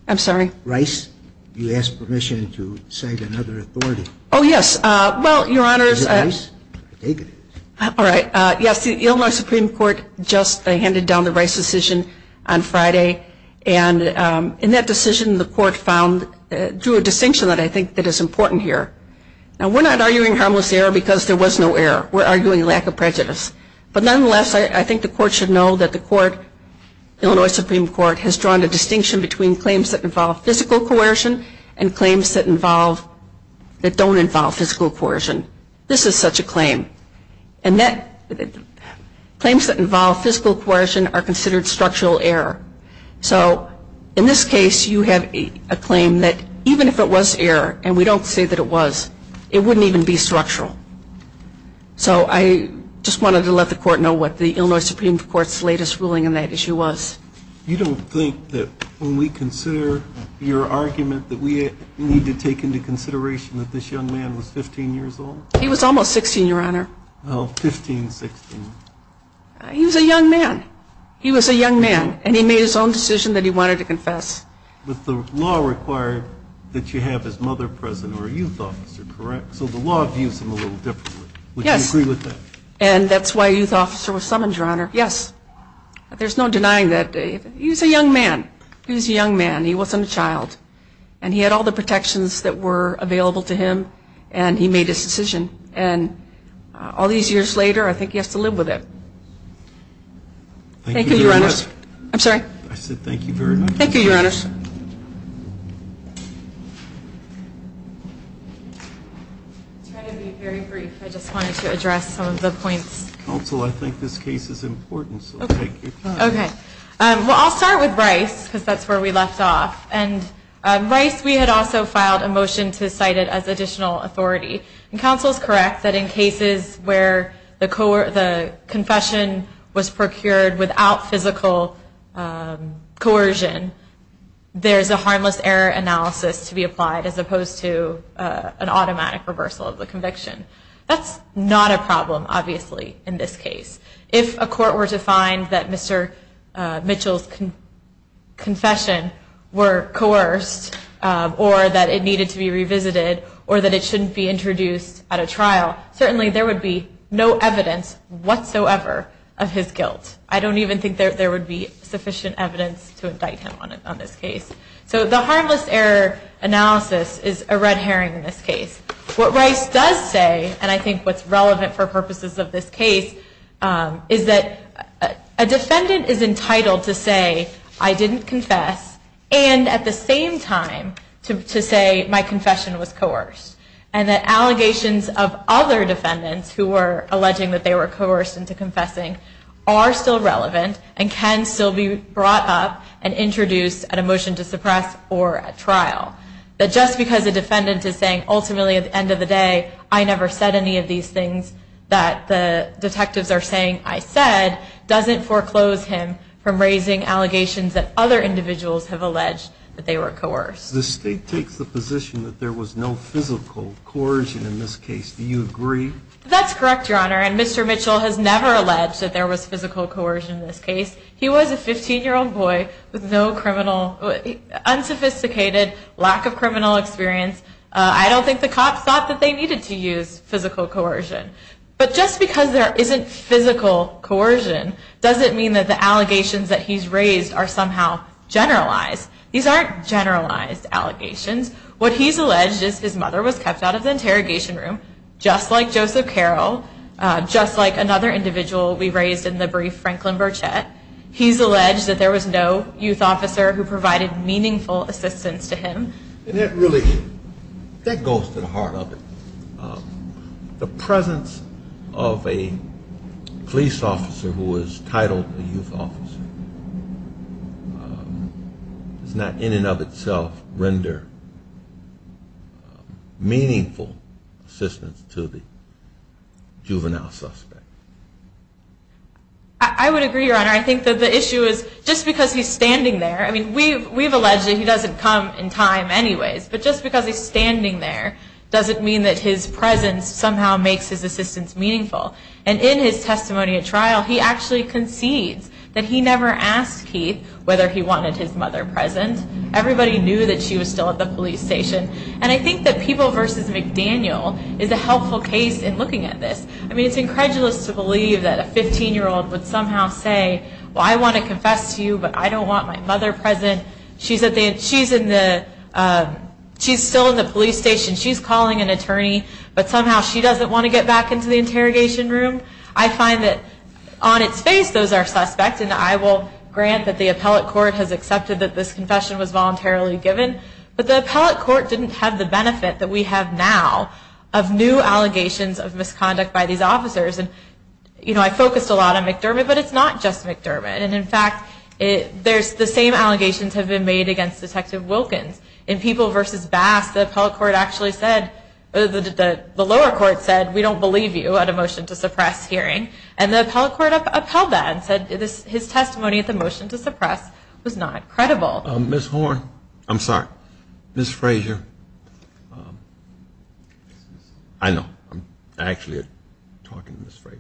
I'm sorry? Rice, you asked permission to cite another authority. Oh, yes. Well, Your Honor, Is it Rice? I take it. All right. Yes, the Illinois Supreme Court just handed down the Rice decision on Friday, and in that decision, the court found, drew a distinction that I think is important here. Now, we're not arguing harmless error because there was no error. We're arguing lack of prejudice. But nonetheless, I think the court should know that the court, Illinois Supreme Court, has drawn a distinction between claims that involve physical coercion and claims that don't involve physical coercion. This is such a claim. And claims that involve physical coercion are considered structural error. So in this case, you have a claim that even if it was error, and we don't say that it was, it wouldn't even be structural. So I just wanted to let the court know what the Illinois Supreme Court's latest ruling on that issue was. You don't think that when we consider your argument that we need to take into consideration that this young man was 15 years old? He was almost 16, Your Honor. Oh, 15, 16. He was a young man. He was a young man, and he made his own decision that he wanted to confess. But the law required that you have his mother present or a youth officer, correct? So the law views him a little differently. Yes. Would you agree with that? And that's why a youth officer was summoned, Your Honor. Yes. There's no denying that. He was a young man. He was a young man. He wasn't a child. And he had all the protections that were available to him, and he made his decision. And all these years later, I think he has to live with it. Thank you very much. I'm sorry? I said thank you very much. Thank you, Your Honor. Any further discussion? I'll try to be very brief. I just wanted to address some of the points. Counsel, I think this case is important, so I'll take your time. Okay. Well, I'll start with Bryce because that's where we left off. And Bryce, we had also filed a motion to cite it as additional authority. And counsel is correct that in cases where the confession was procured without physical coercion, there's a harmless error analysis to be applied as opposed to an automatic reversal of the conviction. That's not a problem, obviously, in this case. If a court were to find that Mr. Mitchell's confession were coerced or that it needed to be revisited or that it shouldn't be introduced at a trial, certainly there would be no evidence whatsoever of his guilt. I don't even think there would be sufficient evidence to indict him on this case. So the harmless error analysis is a red herring in this case. What Bryce does say, and I think what's relevant for purposes of this case, is that a defendant is entitled to say, I didn't confess, and at the same time to say my confession was coerced. And that allegations of other defendants who were alleging that they were coerced into confessing are still relevant and can still be brought up and introduced at a motion to suppress or at trial. That just because a defendant is saying, ultimately, at the end of the day, I never said any of these things that the detectives are saying I said, doesn't foreclose him from raising allegations that other individuals have alleged that they were coerced. The state takes the position that there was no physical coercion in this case. Do you agree? That's correct, Your Honor. And Mr. Mitchell has never alleged that there was physical coercion in this case. He was a 15-year-old boy with no unsophisticated lack of criminal experience. I don't think the cops thought that they needed to use physical coercion. But just because there isn't physical coercion, doesn't mean that the allegations that he's raised are somehow generalized. These aren't generalized allegations. What he's alleged is his mother was kept out of the interrogation room, just like Joseph Carroll, just like another individual we raised in the brief, Franklin Burchett. He's alleged that there was no youth officer who provided meaningful assistance to him. And that really goes to the heart of it. The presence of a police officer who was titled a youth officer does not in and of itself render meaningful assistance to the juvenile suspect. I would agree, Your Honor. I think that the issue is just because he's standing there, I mean, we've alleged that he doesn't come in time anyways. But just because he's standing there, doesn't mean that his presence somehow makes his assistance meaningful. And in his testimony at trial, he actually concedes that he never asked Keith whether he wanted his mother present. Everybody knew that she was still at the police station. And I think that People v. McDaniel is a helpful case in looking at this. I mean, it's incredulous to believe that a 15-year-old would somehow say, well, I want to confess to you, but I don't want my mother present. She's still in the police station. She's calling an attorney. But somehow she doesn't want to get back into the interrogation room. I find that on its face, those are suspects. And I will grant that the appellate court has accepted that this confession was voluntarily given. But the appellate court didn't have the benefit that we have now of new allegations of misconduct by these officers. And, you know, I focused a lot on McDermott, but it's not just McDermott. And, in fact, the same allegations have been made against Detective Wilkins. In People v. Bass, the appellate court actually said, the lower court said we don't believe you at a motion to suppress hearing. And the appellate court upheld that and said his testimony at the motion to suppress was not credible. Ms. Horn. I'm sorry. Ms. Frazier. I know. I'm actually talking to Ms. Frazier.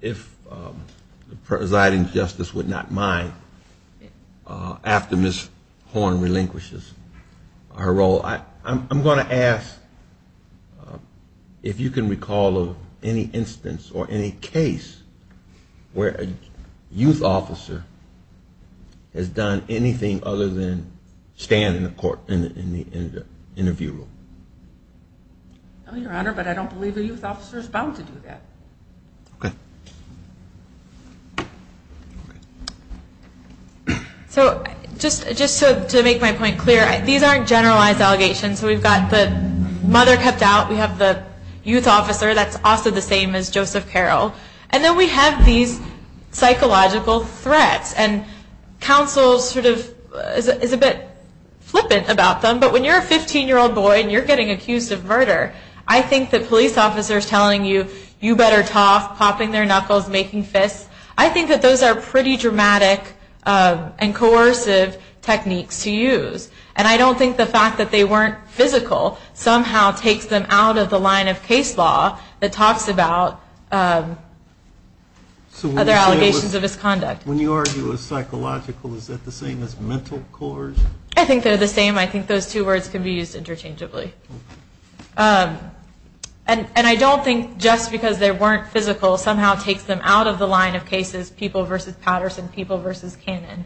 If the presiding justice would not mind, after Ms. Horn relinquishes her role, I'm going to ask if you can recall of any instance or any case where a youth officer has done anything other than stand in the court, in the interview room. Your Honor, but I don't believe a youth officer is bound to do that. Okay. So just to make my point clear, these aren't generalized allegations. We've got the mother kept out. We have the youth officer that's also the same as Joseph Carroll. And then we have these psychological threats. And counsel sort of is a bit flippant about them. But when you're a 15-year-old boy and you're getting accused of murder, I think that police officers telling you, you better talk, popping their knuckles, making fists, I think that those are pretty dramatic and coercive techniques to use. And I don't think the fact that they weren't physical somehow takes them out of the line of case law that talks about other allegations of misconduct. When you argue a psychological, is that the same as mental coercion? I think they're the same. I think those two words can be used interchangeably. And I don't think just because they weren't physical somehow takes them out of the line of cases, people versus Patterson, people versus Cannon.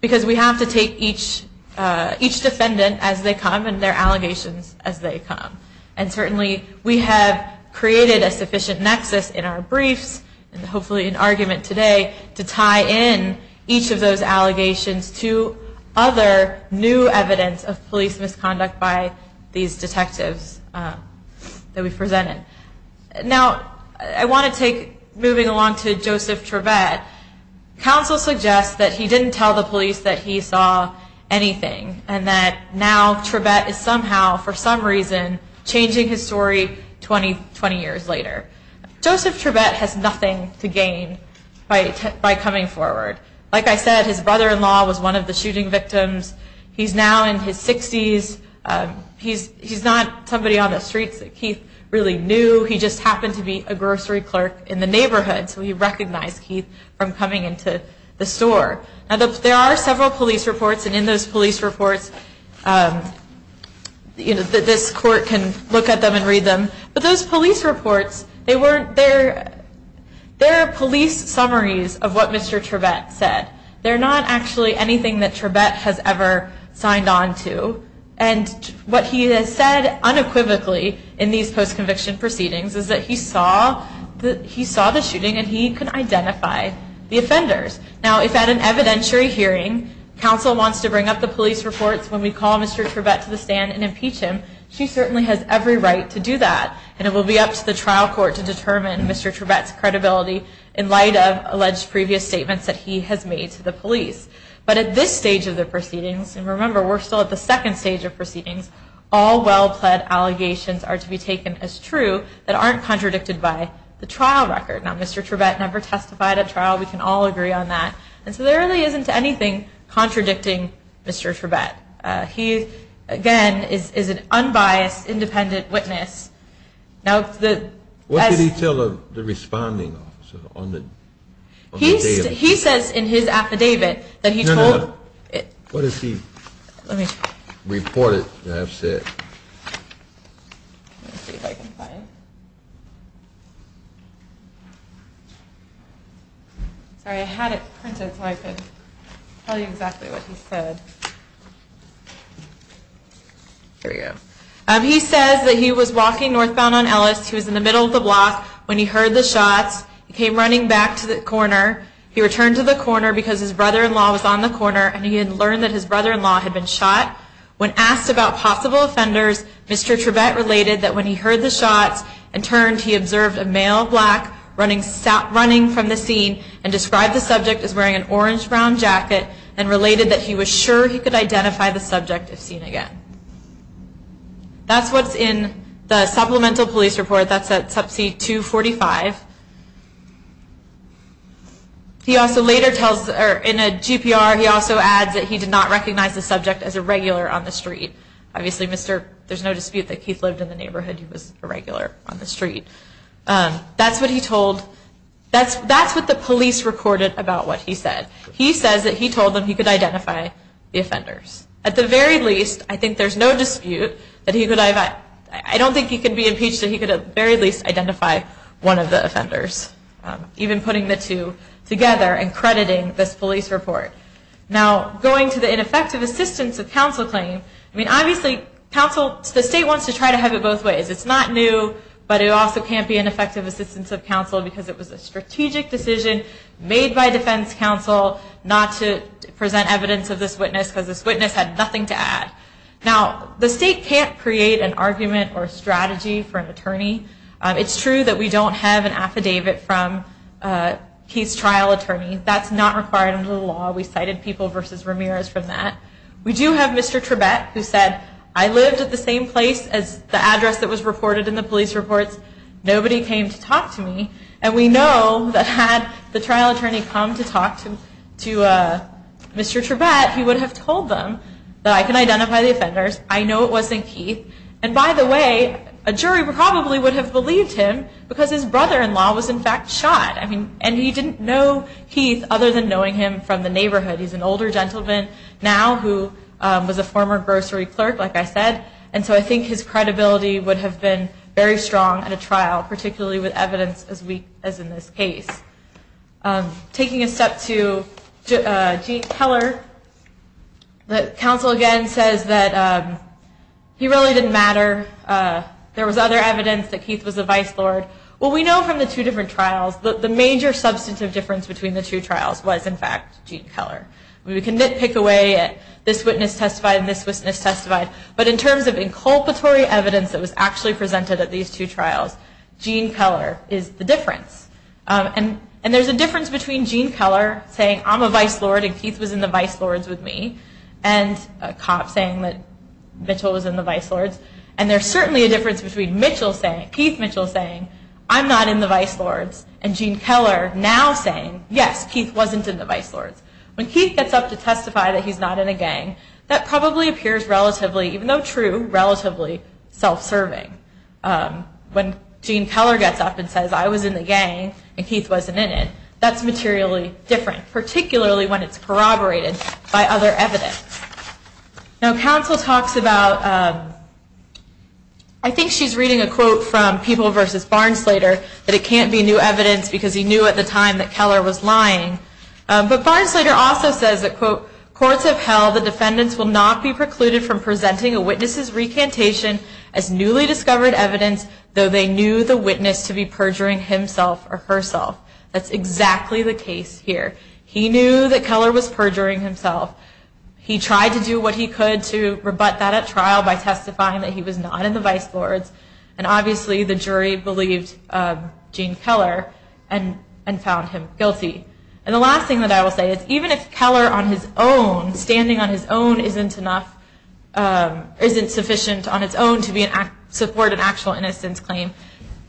Because we have to take each defendant as they come and their allegations as they come. And certainly we have created a sufficient nexus in our briefs, and hopefully in argument today, to tie in each of those allegations to other new evidence of police misconduct by these detectives that we've presented. Now, I want to take, moving along to Joseph Trebett, counsel suggests that he didn't tell the police that he saw anything, and that now Trebett is somehow, for some reason, changing his story 20 years later. Joseph Trebett has nothing to gain by coming forward. Like I said, his brother-in-law was one of the shooting victims. He's now in his 60s. He's not somebody on the streets that Keith really knew. He just happened to be a grocery clerk in the neighborhood, so he recognized Keith from coming into the store. There are several police reports, and in those police reports, this court can look at them and read them. But those police reports, they're police summaries of what Mr. Trebett said. They're not actually anything that Trebett has ever signed on to. And what he has said unequivocally in these post-conviction proceedings is that he saw the shooting, and he can identify the offenders. Now, if at an evidentiary hearing, counsel wants to bring up the police reports when we call Mr. Trebett to the stand and impeach him, she certainly has every right to do that. And it will be up to the trial court to determine Mr. Trebett's credibility in light of alleged previous statements that he has made to the police. But at this stage of the proceedings, and remember we're still at the second stage of proceedings, all well-pled allegations are to be taken as true that aren't contradicted by the trial record. Now, Mr. Trebett never testified at trial. We can all agree on that. And so there really isn't anything contradicting Mr. Trebett. He, again, is an unbiased, independent witness. What did he tell the responding officer on the affidavit? He says in his affidavit that he told— No, no, no. What does he report it to have said? Let me see if I can find it. Sorry, I had it printed so I could tell you exactly what he said. Here we go. He says that he was walking northbound on Ellis. He was in the middle of the block when he heard the shots. He came running back to the corner. He returned to the corner because his brother-in-law was on the corner and he had learned that his brother-in-law had been shot. When asked about possible offenders, Mr. Trebett related that when he heard the shots and turned, he observed a male black running from the scene and described the subject as wearing an orange-brown jacket and related that he was sure he could identify the subject if seen again. That's what's in the supplemental police report. That's at subset 245. He also later tells—or in a GPR, he also adds that he did not recognize the subject as a regular on the street. Obviously, there's no dispute that Keith lived in the neighborhood. He was a regular on the street. That's what he told—that's what the police recorded about what he said. He says that he told them he could identify the offenders. At the very least, I think there's no dispute that he could—I don't think he could be impeached that he could at the very least identify one of the offenders, even putting the two together and crediting this police report. Now, going to the ineffective assistance of counsel claim, I mean, obviously, counsel—the state wants to try to have it both ways. It's not new, but it also can't be ineffective assistance of counsel because it was a strategic decision made by defense counsel not to present evidence of this witness because this witness had nothing to add. Now, the state can't create an argument or a strategy for an attorney. It's true that we don't have an affidavit from Keith's trial attorney. That's not required under the law. We cited people versus Ramirez from that. We do have Mr. Tribbett who said, I lived at the same place as the address that was reported in the police reports. Nobody came to talk to me. And we know that had the trial attorney come to talk to Mr. Tribbett, he would have told them that I can identify the offenders. I know it wasn't Keith. And by the way, a jury probably would have believed him because his brother-in-law was, in fact, shot. And he didn't know Keith other than knowing him from the neighborhood. He's an older gentleman now who was a former grocery clerk, like I said. And so I think his credibility would have been very strong at a trial, particularly with evidence as weak as in this case. Taking a step to Gene Keller, the counsel again says that he really didn't matter. There was other evidence that Keith was the vice lord. Well, we know from the two different trials that the major substantive difference between the two trials was, in fact, Gene Keller. We can nitpick away at this witness testified and this witness testified. But in terms of inculpatory evidence that was actually presented at these two trials, Gene Keller is the difference. And there's a difference between Gene Keller saying, I'm a vice lord and Keith was in the vice lords with me, and a cop saying that Mitchell was in the vice lords. And there's certainly a difference between Keith Mitchell saying, I'm not in the vice lords, and Gene Keller now saying, yes, Keith wasn't in the vice lords. When Keith gets up to testify that he's not in a gang, that probably appears relatively, even though true, relatively self-serving. When Gene Keller gets up and says, I was in the gang and Keith wasn't in it, that's materially different, particularly when it's corroborated by other evidence. Now counsel talks about, I think she's reading a quote from People v. Barnsleder, that it can't be new evidence because he knew at the time that Keller was lying. But Barnsleder also says that, quote, courts have held the defendants will not be precluded from presenting a witness's recantation as newly discovered evidence, though they knew the witness to be perjuring himself or herself. That's exactly the case here. He knew that Keller was perjuring himself. He tried to do what he could to rebut that at trial by testifying that he was not in the vice lords. And obviously the jury believed Gene Keller and found him guilty. And the last thing that I will say is, even if Keller on his own, standing on his own, isn't sufficient on its own to support an actual innocence claim,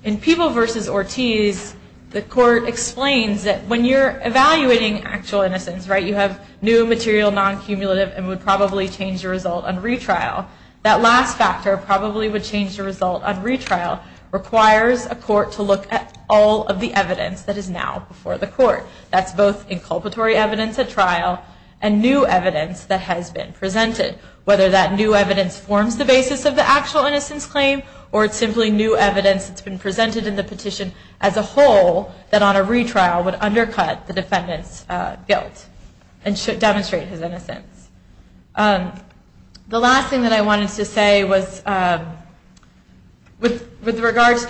in People v. Ortiz, the court explains that when you're evaluating actual innocence, you have new material, non-cumulative, and would probably change the result on retrial. That last factor, probably would change the result on retrial, requires a court to look at all of the evidence that is now before the court. That's both inculpatory evidence at trial and new evidence that has been presented. Whether that new evidence forms the basis of the actual innocence claim or it's simply new evidence that's been presented in the petition as a whole that on a retrial would undercut the defendant's guilt and should demonstrate his innocence. The last thing that I wanted to say was, with regard to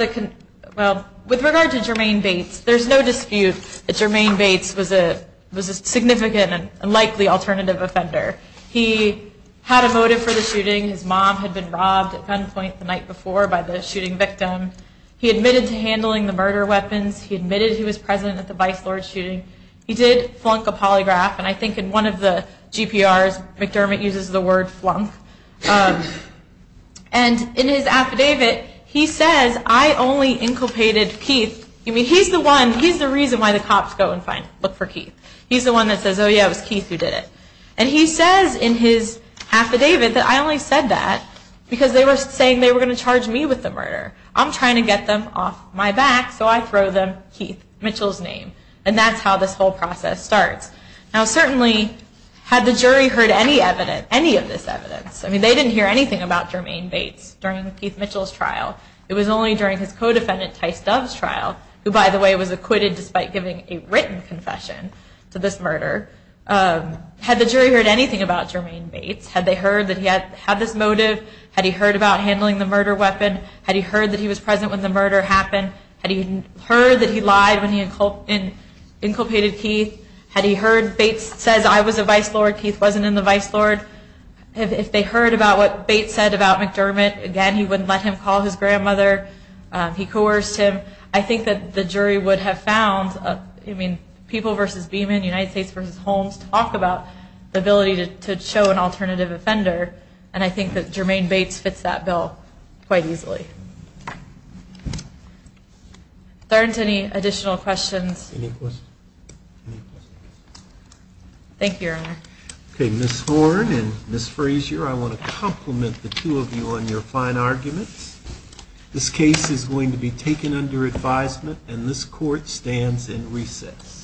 Jermaine Bates, there's no dispute that Jermaine Bates was a significant and likely alternative offender. He had a motive for the shooting. His mom had been robbed at gunpoint the night before by the shooting victim. He admitted to handling the murder weapons. He admitted he was present at the vice lord shooting. He did flunk a polygraph, and I think in one of the GPRs, McDermott uses the word flunk. And in his affidavit, he says, I only inculpated Keith. I mean, he's the one, he's the reason why the cops go and find, look for Keith. He's the one that says, oh yeah, it was Keith who did it. And he says in his affidavit that I only said that because they were saying they were going to charge me with the murder. I'm trying to get them off my back, so I throw them Keith Mitchell's name. And that's how this whole process starts. Now certainly, had the jury heard any evidence, any of this evidence, I mean, they didn't hear anything about Jermaine Bates during Keith Mitchell's trial. It was only during his co-defendant, Tice Dove's trial, who by the way was acquitted despite giving a written confession to this murder. Had the jury heard anything about Jermaine Bates? Had they heard that he had this motive? Had he heard about handling the murder weapon? Had he heard that he was present when the murder happened? Had he heard that he lied when he inculpated Keith? Had he heard Bates says I was a vice lord, Keith wasn't in the vice lord? If they heard about what Bates said about McDermott, again, he wouldn't let him call his grandmother. He coerced him. I think that the jury would have found, I mean, People v. Beeman, United States v. Holmes, talk about the ability to show an alternative offender. And I think that Jermaine Bates fits that bill quite easily. Are there any additional questions? Any questions? Thank you, Your Honor. Okay, Ms. Horne and Ms. Frazier, I want to compliment the two of you on your fine arguments. This case is going to be taken under advisement, and this court stands in recess.